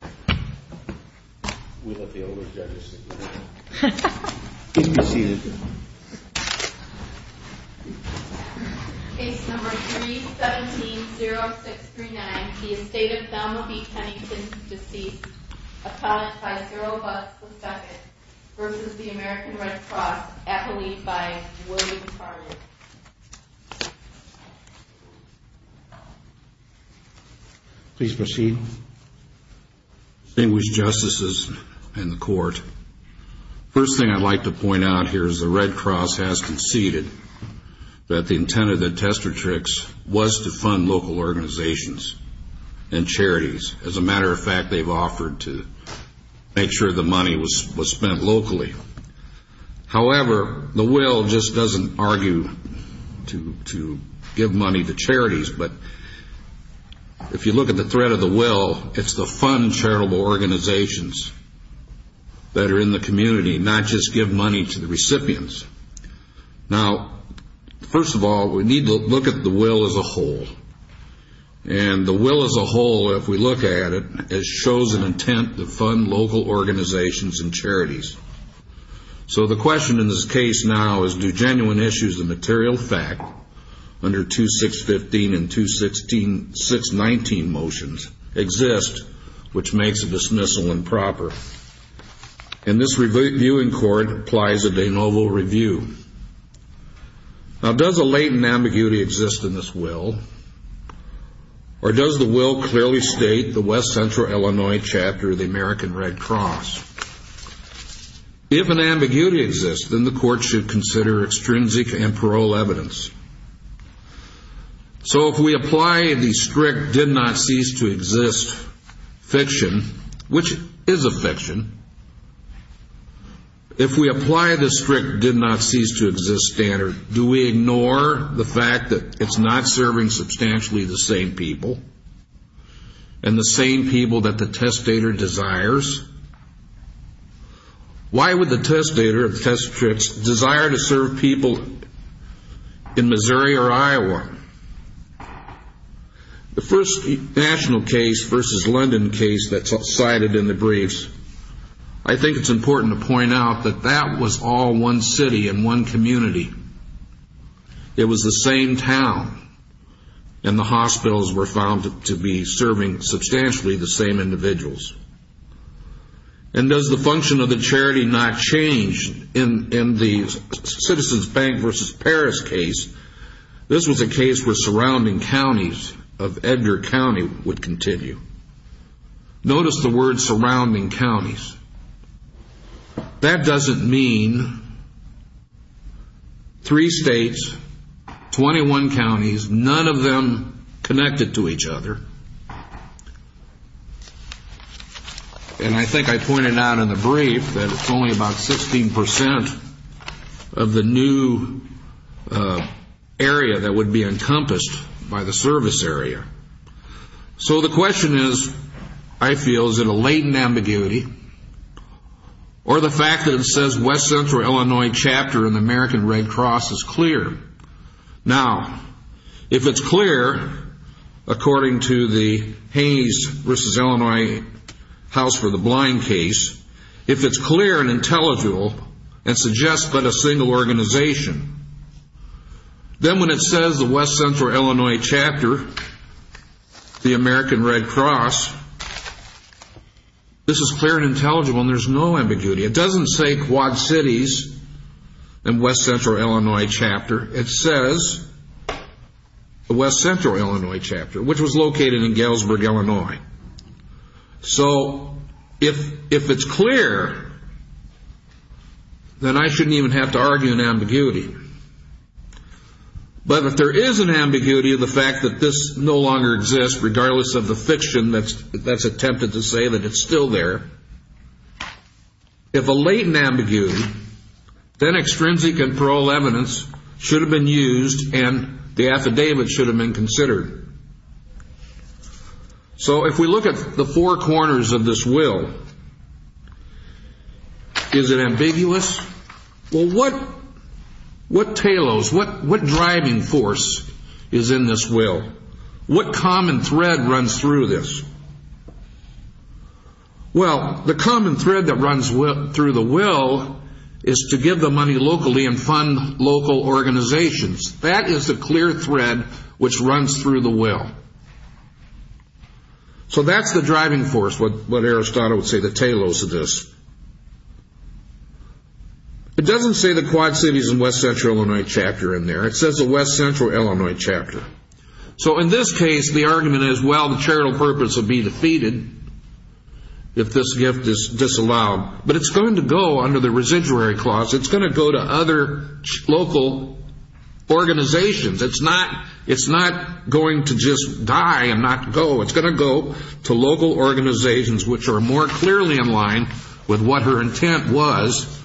Case number 317-0639. The estate of Thelma B. Pennington, deceased. Apologized 0 bucks per second. Versus the American Red Cross. Appellee 5, William Tarnum. Please proceed. Distinguished Justices in the Court, first thing I'd like to point out here is the Red Cross has conceded that the intent of the Testatrix was to fund local organizations and charities. As a matter of fact, they've offered to make sure the money was spent locally. However, the will just doesn't argue to give money to charities, but if you look at the threat of the will, it's to fund charitable organizations that are in the community, not just give money to the recipients. Now, first of all, we need to look at the will as a whole. And the will as a whole, if we look at it, it shows an intent to fund local organizations and charities. So the question in this case now is do genuine issues of material fact under 2-615 and 2-619 motions exist which makes a dismissal improper? And this reviewing court applies a de novo review. Now, does a latent ambiguity exist in this will? Or does the will clearly state the West Central Illinois chapter of the American Red Cross? If an ambiguity exists, then the court should consider extrinsic and parole evidence. So if we apply the strict did-not-cease-to-exist fiction, which is a fiction, if we apply the strict did-not-cease-to-exist standard, do we ignore the fact that it's not serving substantially the same people and the same people that the testator desires? Why would the testator desire to serve people in Missouri or Iowa? The first national case versus London case that's cited in the briefs, I think it's important to point out that that was all one city and one community. It was the same town. And the hospitals were found to be serving substantially the same individuals. And does the function of the charity not change in the Citizens Bank versus Paris case? This was a case where surrounding counties of Edgar County would continue. Notice the word surrounding counties. That doesn't mean three states, 21 counties, none of them connected to each other. And I think I pointed out in the brief that it's only about 16 percent of the new area that would be encompassed by the service area. So the question is, I feel, is it a latent ambiguity or the fact that it says West Central Illinois chapter in the American Red Cross is clear? Now, if it's clear, according to the Haynes versus Illinois House for the Blind case, if it's clear and intelligible and suggests but a single organization, then when it says the West Central Illinois chapter, the American Red Cross, this is clear and intelligible and there's no ambiguity. It doesn't say Quad Cities and West Central Illinois chapter. It says the West Central Illinois chapter, which was located in Galesburg, Illinois. So if it's clear, then I shouldn't even have to argue an ambiguity. But if there is an ambiguity of the fact that this no longer exists, regardless of the fiction that's attempted to say that it's still there, if a latent ambiguity, then extrinsic and parole evidence should have been used and the affidavit should have been considered. So if we look at the four corners of this will, is it ambiguous? Well, what tailoes, what driving force is in this will? What common thread runs through this? Well, the common thread that runs through the will is to give the money locally and fund local organizations. That is the clear thread which runs through the will. So that's the driving force, what Aristotle would say the tailoes of this. It doesn't say the Quad Cities and West Central Illinois chapter in there. It says the West Central Illinois chapter. So in this case, the argument is, well, the charitable purpose would be defeated if this gift is disallowed. But it's going to go under the residuary clause. It's going to go to other local organizations. It's not going to just die and not go. It's going to go to local organizations which are more clearly in line with what her intent was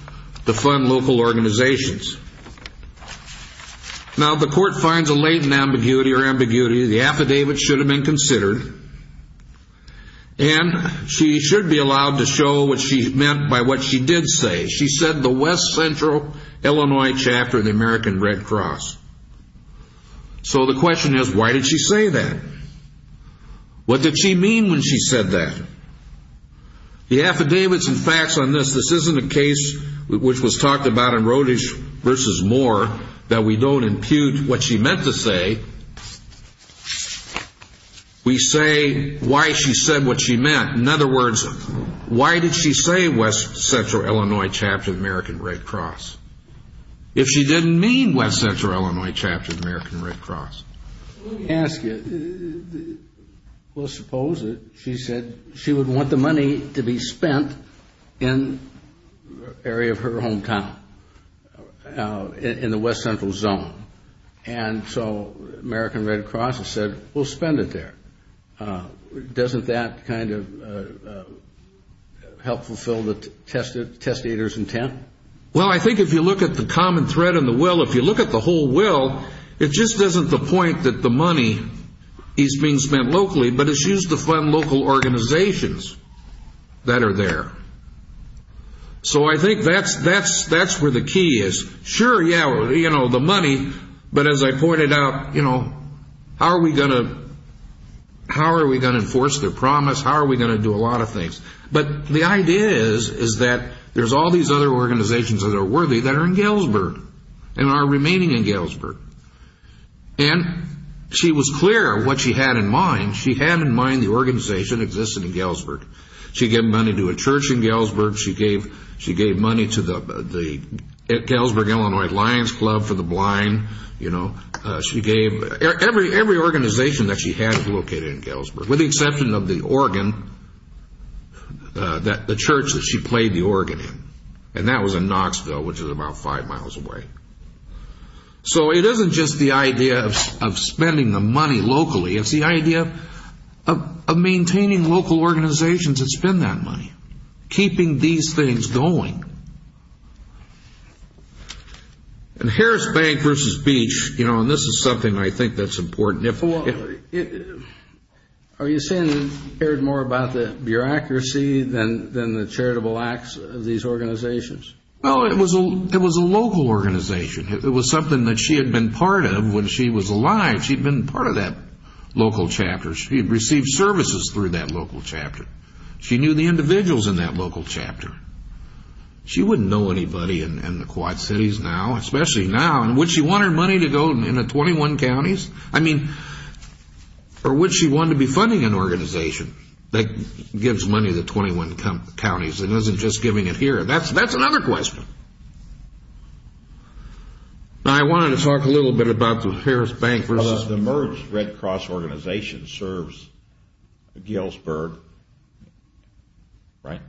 to fund local organizations. Now, the court finds a latent ambiguity or ambiguity. The affidavit should have been considered. And she should be allowed to show what she meant by what she did say. She said the West Central Illinois chapter of the American Red Cross. So the question is, why did she say that? What did she mean when she said that? The affidavits and facts on this, this isn't a case which was talked about in Rodish v. Moore that we don't impute what she meant to say. We say why she said what she meant. In other words, why did she say West Central Illinois chapter of the American Red Cross if she didn't mean West Central Illinois chapter of the American Red Cross? Well, I think if you look at the common thread in the will, if you look at the whole will, it just isn't the point of the will. It's not the point of the will. It's not the point of the will. It's not the point that the money is being spent locally, but it's used to fund local organizations that are there. So I think that's where the key is. Sure, yeah, the money, but as I pointed out, how are we going to enforce their promise? How are we going to do a lot of things? But the idea is that there's all these other organizations that are worthy that are in Galesburg and are remaining in Galesburg. And she was clear what she had in mind. She had in mind the organization existing in Galesburg. She gave money to a church in Galesburg. She gave money to the Galesburg Illinois Lions Club for the Blind. Every organization that she had was located in Galesburg, with the exception of the church that she played the organ in. And that was in Knoxville, which is about five miles away. So it isn't just the idea of spending the money locally. It's the idea of maintaining local organizations that spend that money, keeping these things going. And Harris Bank versus Beach, you know, and this is something I think that's important. Are you saying you cared more about the bureaucracy than the charitable acts of these organizations? Well, it was a local organization. It was something that she had been part of when she was alive. She had been part of that local chapter. She had received services through that local chapter. She knew the individuals in that local chapter. She wouldn't know anybody in the Quad Cities now, especially now. And would she want her money to go into 21 counties? I mean, or would she want to be funding an organization that gives money to 21 counties and isn't just giving it here? That's a hard question. I wanted to talk a little bit about the Harris Bank. The Merge Red Cross organization serves Galesburg, right?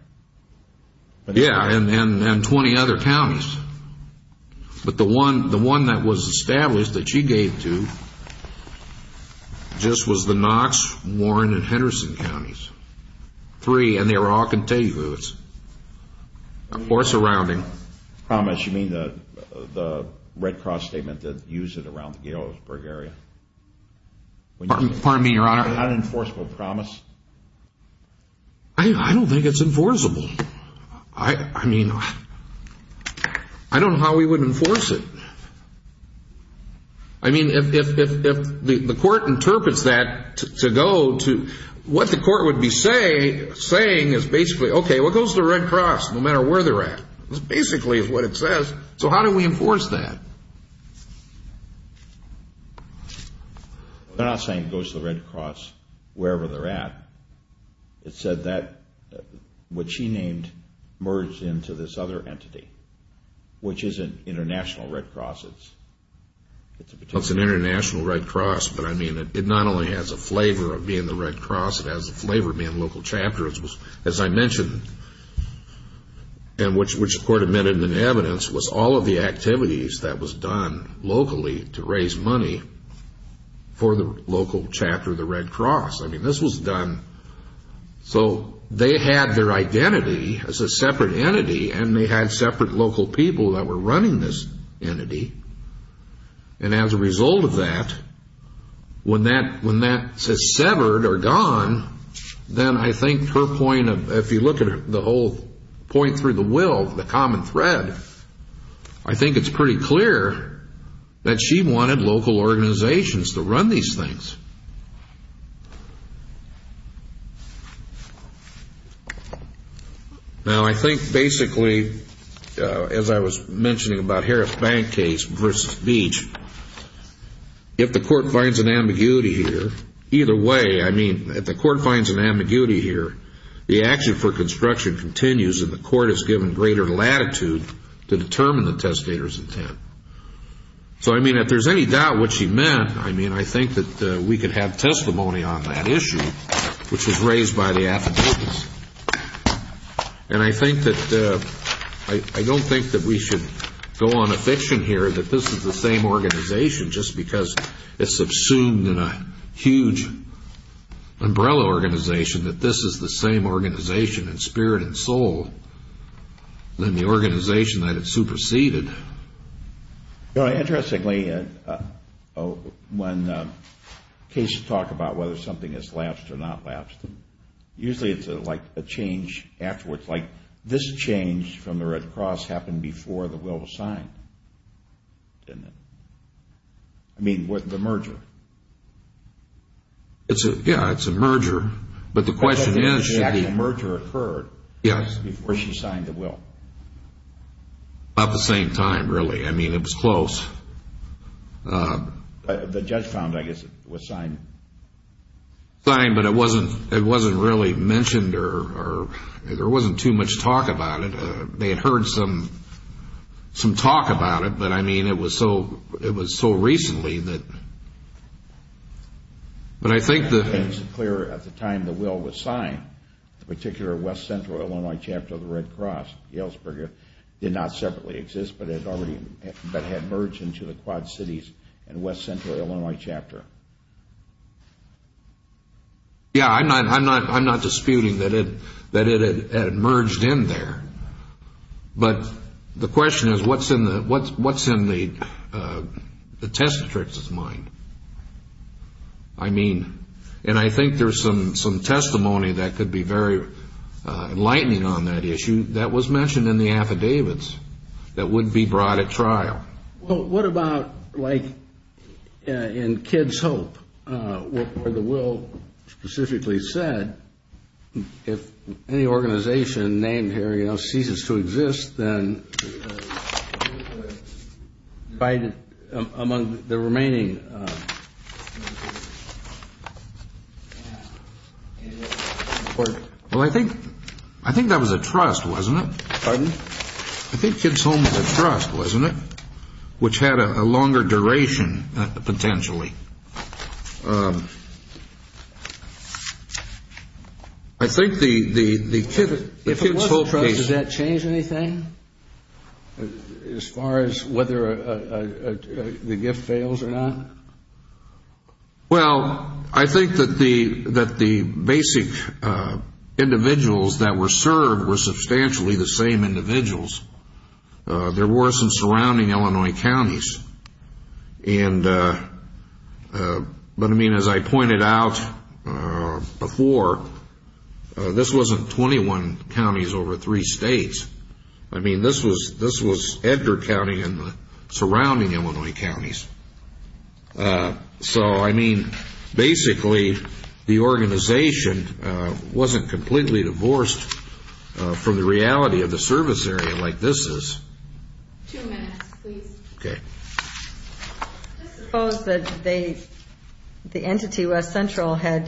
Promise? You mean the Red Cross statement that used it around the Galesburg area? Pardon me, Your Honor. Unenforceable promise? I don't think it's enforceable. I mean, I don't know how we would enforce it. I mean, if the court interprets that to go to what the court would be saying is basically, okay, well, it goes to the Red Cross no matter where they're at. That basically is what it says. So how do we enforce that? They're not saying it goes to the Red Cross wherever they're at. It said that what she named merged into this other entity, which isn't International Red Cross. It's an International Red Cross, but I mean, it not only has a flavor of being the Red Cross, it has a flavor of being local chapters. As I mentioned, and which the court admitted in the evidence, was all of the activities that was done locally to raise money for the local chapter of the Red Cross. I mean, this was done so they had their identity as a separate entity, and they had separate local people that were running this entity. And as a result of that, when that says severed or gone, then I think her point of, if you look at the whole point through the will, the common thread, I think it's pretty clear that she wanted local organizations to run these things. Now, I think basically, as I was mentioning about Harris Bank case versus Beach, if the court finds an ambiguity here, either way, I mean, if the court finds an ambiguity here, the action for construction continues and the court is given greater latitude to determine the testator's intent. So, I mean, if there's any doubt what she meant, I mean, I think that we could have testimony on that issue, which was raised by the affidavits. And I think that, I don't think that we should go on a fiction here that this is the same organization just because it's subsumed in a huge umbrella organization, that this is the same organization in spirit and soul than the organization that it superseded. Interestingly, when cases talk about whether something is lapsed or not lapsed, usually it's like a change afterwards. Like this change from the Red Cross happened before the will was signed, didn't it? I mean, with the merger. Yeah, it's a merger. But the question is, should the merger have occurred before she signed the will? About the same time, really. I mean, it was close. The judge found, I guess, it was signed. Signed, but it wasn't really mentioned or there wasn't too much talk about it. They had heard some talk about it, but, I mean, it was so recently that... It's clear at the time the will was signed, the particular West Central Illinois chapter of the Red Cross, Galesburg, did not separately exist, but had merged into the Quad Cities and West Central Illinois chapter. Yeah, I'm not disputing that it had merged in there. But the question is, what's in the Testatrix's mind? I mean, and I think there's some testimony that could be very enlightening on that issue that was mentioned in the affidavits that would be brought at trial. Well, what about, like, in Kids Hope, where the will specifically said, if any organization named here, you know, ceases to exist, then Biden, among the remaining... Well, I think that was a trust, wasn't it? Pardon? I think Kids Hope was a trust, wasn't it? Which had a longer duration, potentially. I think the Kids Hope case... If it wasn't a trust, does that change anything, as far as whether the gift fails or not? Well, I think that the basic individuals that were served were substantially the same individuals. There were some surrounding Illinois counties. But, I mean, as I pointed out before, this wasn't 21 counties over three states. I mean, this was Edgar County and the surrounding Illinois counties. So, I mean, basically, the organization wasn't completely divorced from the reality of the service area like this is. Two minutes, please. Okay. Suppose that the entity, West Central, had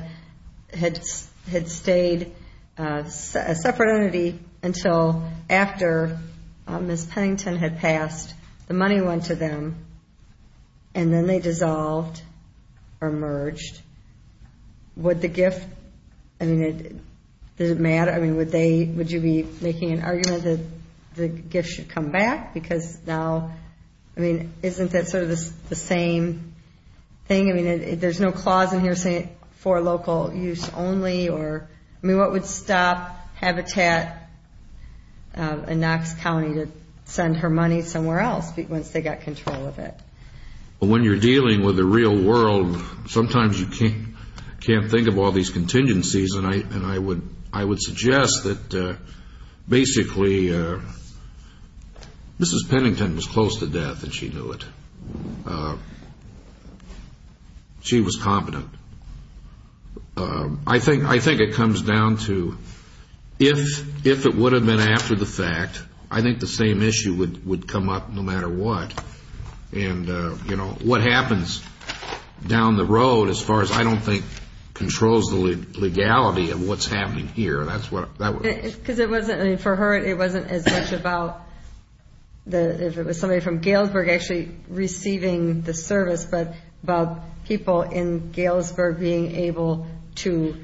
stayed a separate entity until after Ms. Pennington had passed. The money went to them, and then they dissolved or merged. Would the gift... I mean, does it matter? I mean, would you be making an argument that the gift should come back? Because now, I mean, isn't that sort of the same thing? I mean, there's no clause in here saying it's for local use only. I mean, what would stop Habitat in Knox County to send her money somewhere else once they got control of it? Well, when you're dealing with the real world, sometimes you can't think of all these contingencies. And I would suggest that basically, Mrs. Pennington was close to death, and she knew it. She was competent. I think it comes down to if it would have been after the fact, I think the same issue would come up no matter what. And, you know, what happens down the road, as far as I don't think controls the legality of what's happening here, that's what... Because it wasn't, I mean, for her, it wasn't as much about if it was somebody from Galesburg actually receiving the service, but about people in Galesburg being able to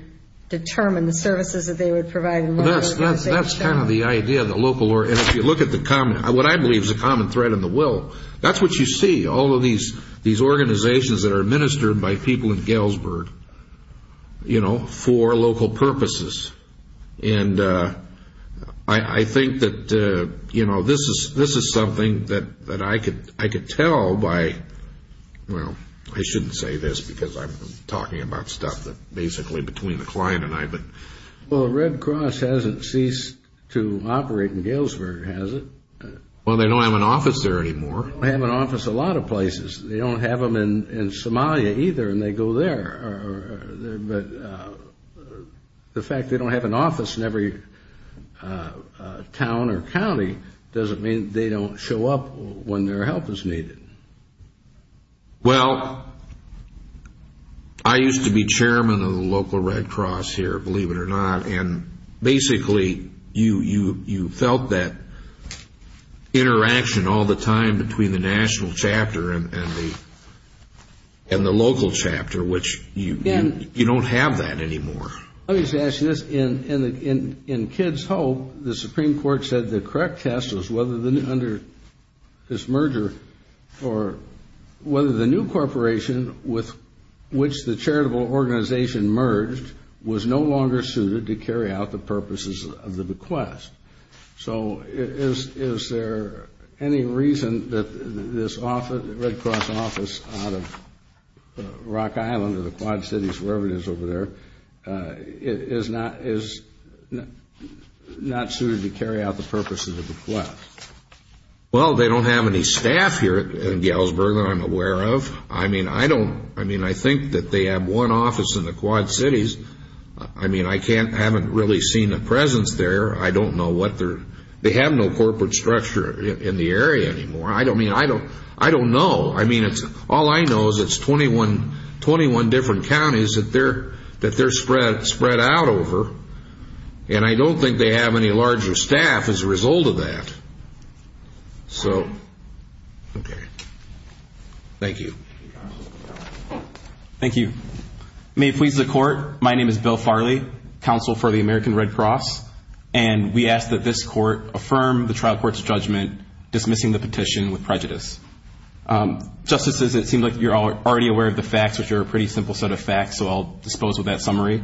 determine the services that they would provide. That's kind of the idea. And if you look at what I believe is a common thread in the will, that's what you see, all of these organizations that are administered by people in Galesburg, you know, for local purposes. And I think that, you know, this is something that I could tell by... Well, I shouldn't say this because I'm talking about stuff that's basically between the client and I, but... The office hasn't ceased to operate in Galesburg, has it? Well, they don't have an office there anymore. They don't have an office a lot of places. They don't have them in Somalia either, and they go there. But the fact they don't have an office in every town or county doesn't mean they don't show up when their help is needed. Well, I used to be chairman of the local Red Cross here, believe it or not, and basically you felt that interaction all the time between the national chapter and the local chapter, which you don't have that anymore. Let me just ask you this. In Kid's Hope, the Supreme Court said the correct test was whether under this merger or whether the new corporation with which the charitable organization merged was no longer suited to carry out the purposes of the bequest. So is there any reason that this Red Cross office out of Rock Island or the Quad Cities, wherever it is over there, is not suited to carry out the purposes of the bequest? Well, they don't have any staff here in Galesburg that I'm aware of. I mean, I think that they have one office in the Quad Cities. I mean, I haven't really seen a presence there. I don't know what their... They have no corporate structure in the area anymore. I don't know. I mean, all I know is it's 21 different counties that they're spread out over, and I don't think they have any larger staff as a result of that. So, okay. Thank you. Thank you. May it please the Court, my name is Bill Farley, Counsel for the American Red Cross, and we ask that this Court affirm the trial court's judgment dismissing the petition with prejudice. Justices, it seems like you're already aware of the facts, which are a pretty simple set of facts, so I'll dispose of that summary.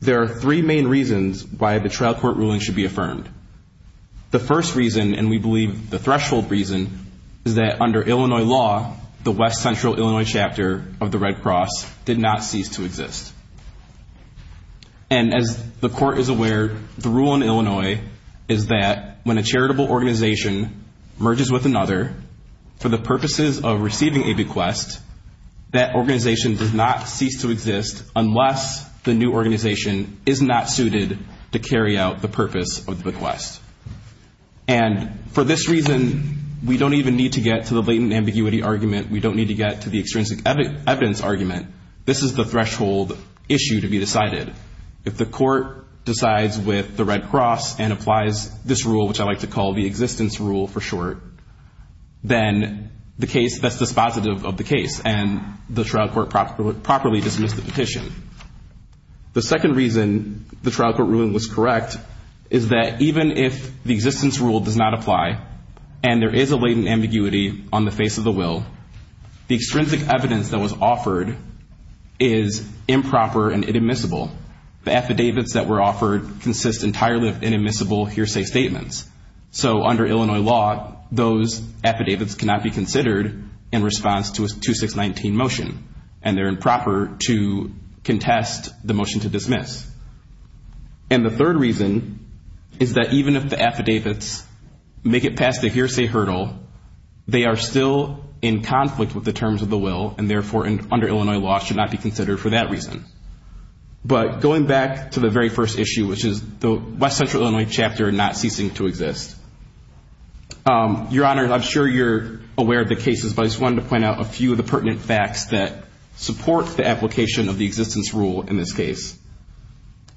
There are three main reasons why the trial court ruling should be affirmed. The first reason, and we believe the threshold reason, is that under Illinois law, the West Central Illinois chapter of the Red Cross did not cease to exist. And as the Court is aware, the rule in Illinois is that when a charitable organization merges with another for the purposes of receiving a bequest, that organization does not cease to exist unless the new organization is not suited to carry out the purpose of the bequest. And for this reason, we don't even need to get to the blatant ambiguity argument. We don't need to get to the extrinsic evidence argument. This is the threshold issue to be decided. If the Court decides with the Red Cross and applies this rule, which I like to call the existence rule for short, then that's dispositive of the case and the trial court properly dismissed the petition. The second reason the trial court ruling was correct is that even if the existence rule does not apply and there is a blatant ambiguity on the face of the will, the extrinsic evidence that was offered is improper and inadmissible. The affidavits that were offered consist entirely of inadmissible hearsay statements. So under Illinois law, those affidavits cannot be considered in response to a 2619 motion and they're improper to contest the motion to dismiss. And the third reason is that even if the affidavits make it past the hearsay hurdle, they are still in conflict with the terms of the will and therefore, under Illinois law, should not be considered for that reason. But going back to the very first issue, which is the West Central Illinois chapter not ceasing to exist. Your Honor, I'm sure you're aware of the cases, but I just wanted to point out a few of the pertinent facts that support the application of the existence rule in this case.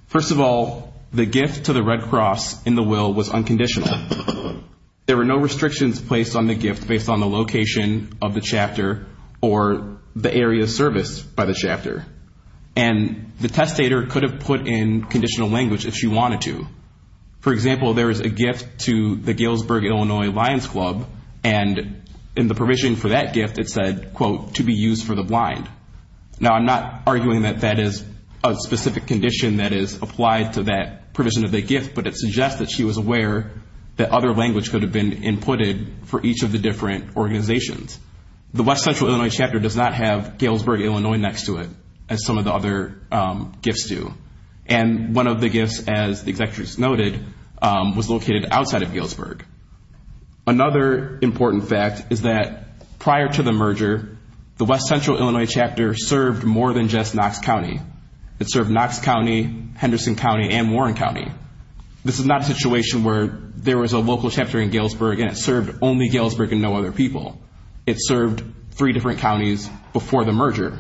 First of all, the gift to the Red Cross in the will was unconditional. There were no restrictions placed on the gift based on the location of the chapter or the area of service by the chapter. And the testator could have put in conditional language if she wanted to. For example, there is a gift to the Galesburg, Illinois Lions Club and in the provision for that gift, it said, quote, to be used for the blind. Now, I'm not arguing that that is a specific condition that is applied to that provision of the gift, but it suggests that she was aware that other language could have been inputted for each of the different organizations. The West Central Illinois chapter does not have Galesburg, Illinois next to it, as some of the other gifts do. And one of the gifts, as the Executives noted, was located outside of Galesburg. Another important fact is that prior to the merger, the West Central Illinois chapter served more than just Knox County. It served Knox County, Henderson County, and Warren County. This is not a situation where there was a local chapter in Galesburg and it served only Galesburg and no other people. It served three different counties before the merger.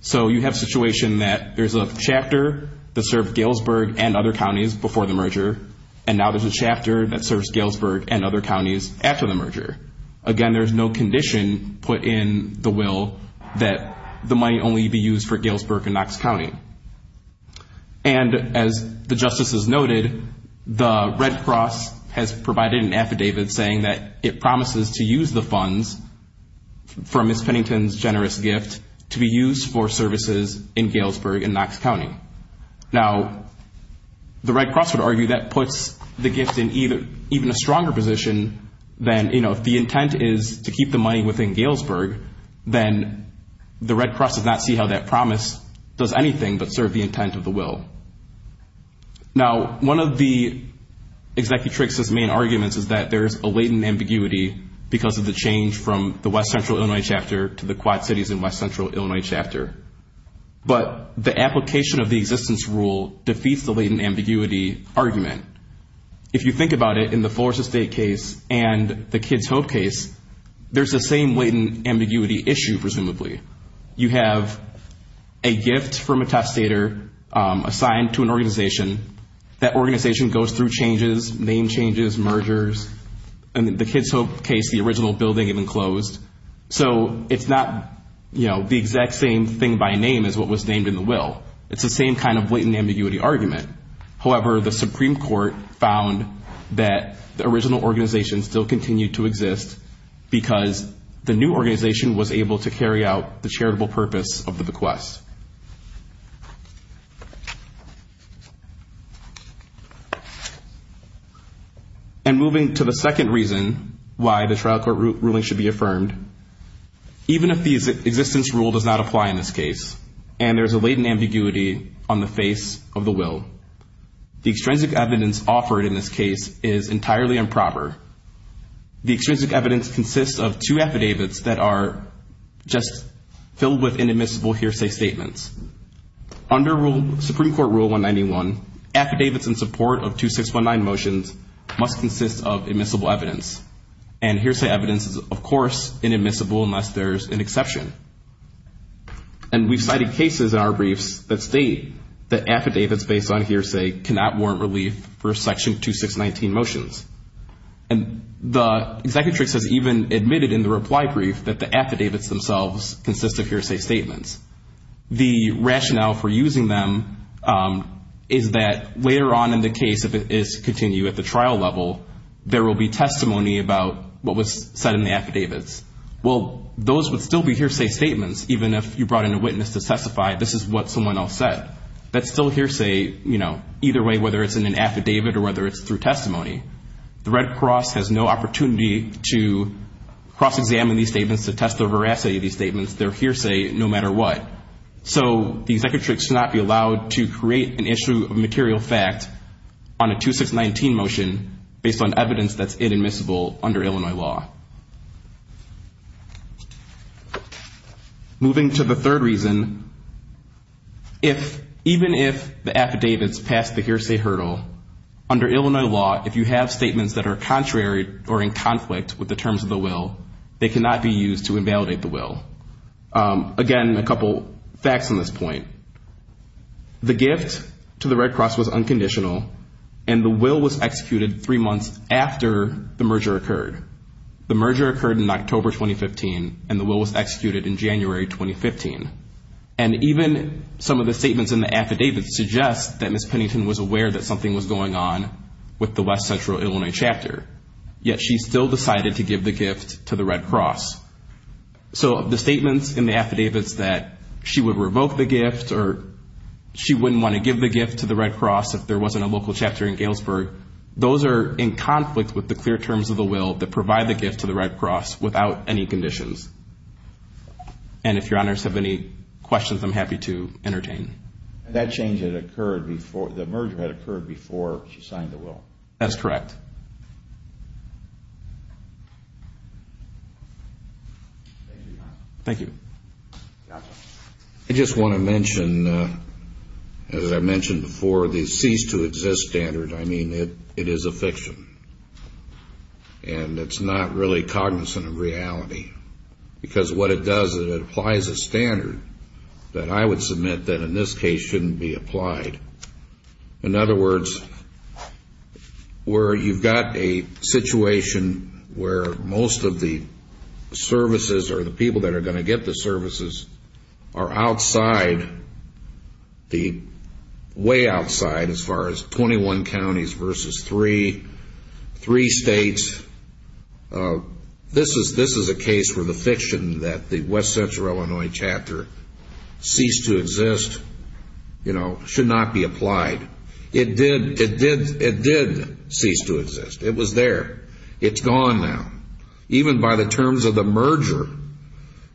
So you have a situation that there's a chapter that served Galesburg and other counties before the merger, and now there's a chapter that serves Galesburg and other counties after the merger. Again, there's no condition put in the will that the money only be used for Galesburg and Knox County. And as the Justices noted, the Red Cross has provided an affidavit saying that it promises to use the funds from Ms. Pennington's generous gift to be used for services in Galesburg and Knox County. Now, the Red Cross would argue that puts the gift in even a stronger position than, you know, if the intent is to keep the money within Galesburg, then the Red Cross does not see how that promise does anything but serve the intent of the will. Now, one of the Executrix's main arguments is that there is a latent ambiguity because of the change from the West Central Illinois chapter to the Quad Cities in West Central Illinois chapter. But the application of the existence rule defeats the latent ambiguity argument. If you think about it, in the Florida State case and the Kids Hope case, there's the same latent ambiguity issue, presumably. You have a gift from a top stater assigned to an organization. That organization goes through changes, name changes, mergers. In the Kids Hope case, the original building had been closed. So it's not, you know, the exact same thing by name as what was named in the will. It's the same kind of latent ambiguity argument. However, the Supreme Court found that the original organization still continued to exist because the new organization was able to carry out the charitable purpose of the bequest. And moving to the second reason why the trial court ruling should be affirmed, even if the existence rule does not apply in this case and there's a latent ambiguity on the face of the will, the extrinsic evidence offered in this case is entirely improper. The extrinsic evidence consists of two affidavits that are just filled with inadmissible hearsay statements. Under Supreme Court Rule 191, affidavits in support of 2619 motions must consist of admissible evidence. And hearsay evidence is, of course, inadmissible unless there's an exception. And we've cited cases in our briefs that state that affidavits based on hearsay cannot warrant relief for Section 2619 motions. And the executrix has even admitted in the reply brief that the affidavits themselves consist of hearsay statements. The rationale for using them is that later on in the case, if it is to continue at the trial level, there will be testimony about what was said in the affidavits. Well, those would still be hearsay statements, even if you brought in a witness to testify this is what someone else said. That's still hearsay, you know, either way, whether it's in an affidavit or whether it's through testimony. The Red Cross has no opportunity to cross-examine these statements, to test the veracity of these statements. They're hearsay no matter what. So the executrix should not be allowed to create an issue of material fact on a 2619 motion based on evidence that's inadmissible under Illinois law. Moving to the third reason, even if the affidavits pass the hearsay hurdle, under Illinois law, if you have statements that are contrary or in conflict with the terms of the will, they cannot be used to invalidate the will. Again, a couple facts on this point. The gift to the Red Cross was unconditional, and the will was executed three months after the merger occurred. The merger occurred in October 2015, and the will was executed in January 2015. And even some of the statements in the affidavits suggest that something was going on with the West Central Illinois chapter, yet she still decided to give the gift to the Red Cross. So the statements in the affidavits that she would revoke the gift or she wouldn't want to give the gift to the Red Cross if there wasn't a local chapter in Galesburg, those are in conflict with the clear terms of the will that provide the gift to the Red Cross without any conditions. And if your honors have any questions, I'm happy to entertain. And that change had occurred before, the merger had occurred before she signed the will. That's correct. Thank you. I just want to mention, as I mentioned before, the cease to exist standard, I mean, it is a fiction. And it's not really cognizant of reality. Because what it does is it applies a standard that I would submit that in this case shouldn't be applied. In other words, where you've got a situation where most of the services or the people that are going to get the services are outside, way outside as far as 21 counties versus three, three states. This is a case where the fiction that the West Central Illinois chapter cease to exist, you know, should not be applied. It did cease to exist. It was there. It's gone now. Even by the terms of the merger,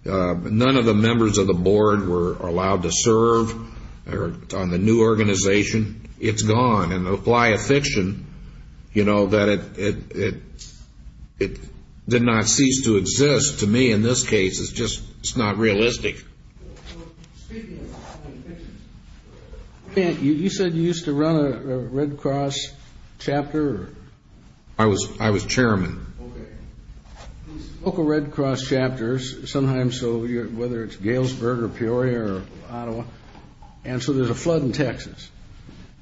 none of the members of the board were allowed to serve on the new organization. It's gone. And apply a fiction, you know, that it did not cease to exist. To me, in this case, it's just not realistic. So speaking of having fictions, you said you used to run a Red Cross chapter? I was chairman. Okay. Local Red Cross chapters, sometimes, whether it's Galesburg or Peoria or Ottawa. And so there's a flood in Texas.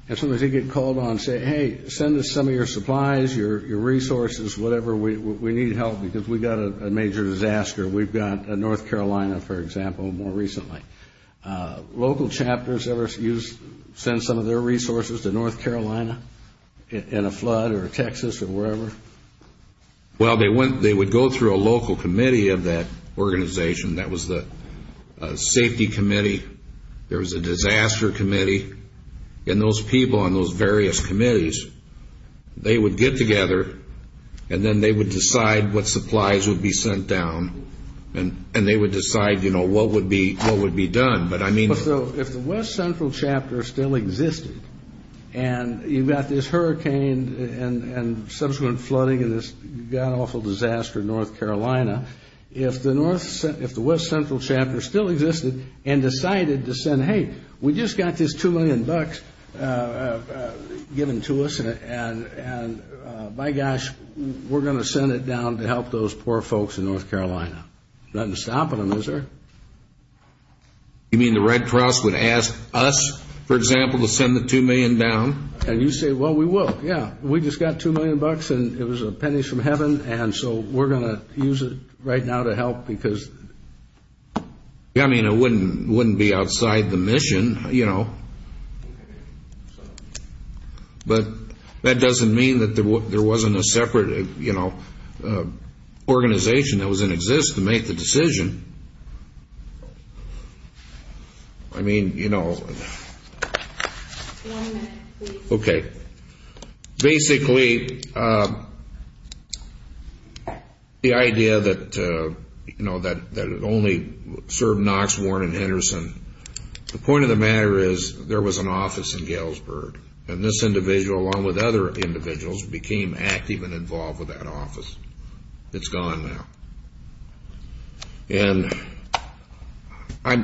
And so they get called on, say, hey, send us some of your supplies, your resources, whatever. We need help because we've got a major disaster. We've got North Carolina, for example, more recently. Local chapters ever send some of their resources to North Carolina in a flood or Texas or wherever? Well, they would go through a local committee of that organization. That was the safety committee. There was a disaster committee. And those people on those various committees, they would get together, and then they would decide what supplies would be sent down. And they would decide, you know, what would be done. But I mean... So if the West Central chapter still existed, and you've got this hurricane and subsequent flooding and this awful disaster in North Carolina, if the West Central chapter still existed and decided to send, hey, we just got this $2 million given to us, and my gosh, we're going to send it down to help those poor folks in North Carolina. Nothing's stopping them, is there? You mean the Red Cross would ask us, for example, to send the $2 million down? And you say, well, we will, yeah. We just got $2 million, and it was pennies from heaven, and so we're going to use it right now to help because... It was a mission, you know. But that doesn't mean that there wasn't a separate organization that was in existence to make the decision. I mean, you know... Okay. Basically, the idea that it only served Knox, Warren, and Henderson, the point of the matter is there was an office in Galesburg, and this individual, along with other individuals, became active and involved with that office. It's gone now. And...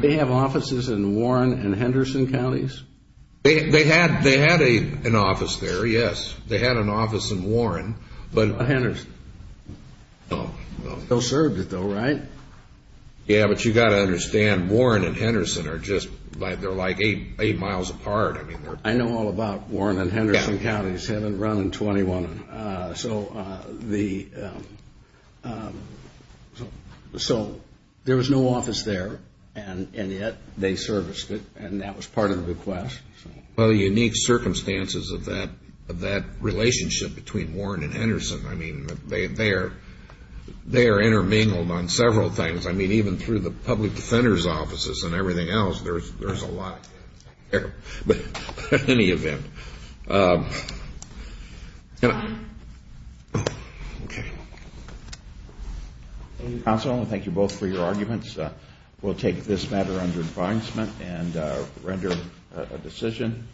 They have offices in Warren and Henderson counties? Yes. They had an office there, yes. They had an office in Warren, but... Henderson. No, no. Still served it, though, right? Yeah, but you've got to understand, Warren and Henderson are just... They're like eight miles apart. I know all about Warren and Henderson counties. They haven't run in 21. So the... So there was no office there, and yet they serviced it, and that was part of the request. Well, the unique circumstances of that relationship between Warren and Henderson, I mean, they are intermingled on several things. I mean, even through the public defender's offices and everything else, there's a lot there. But in any event... Okay. Thank you, counsel, and thank you both for your arguments. We'll take this matter under advisement and render a decision.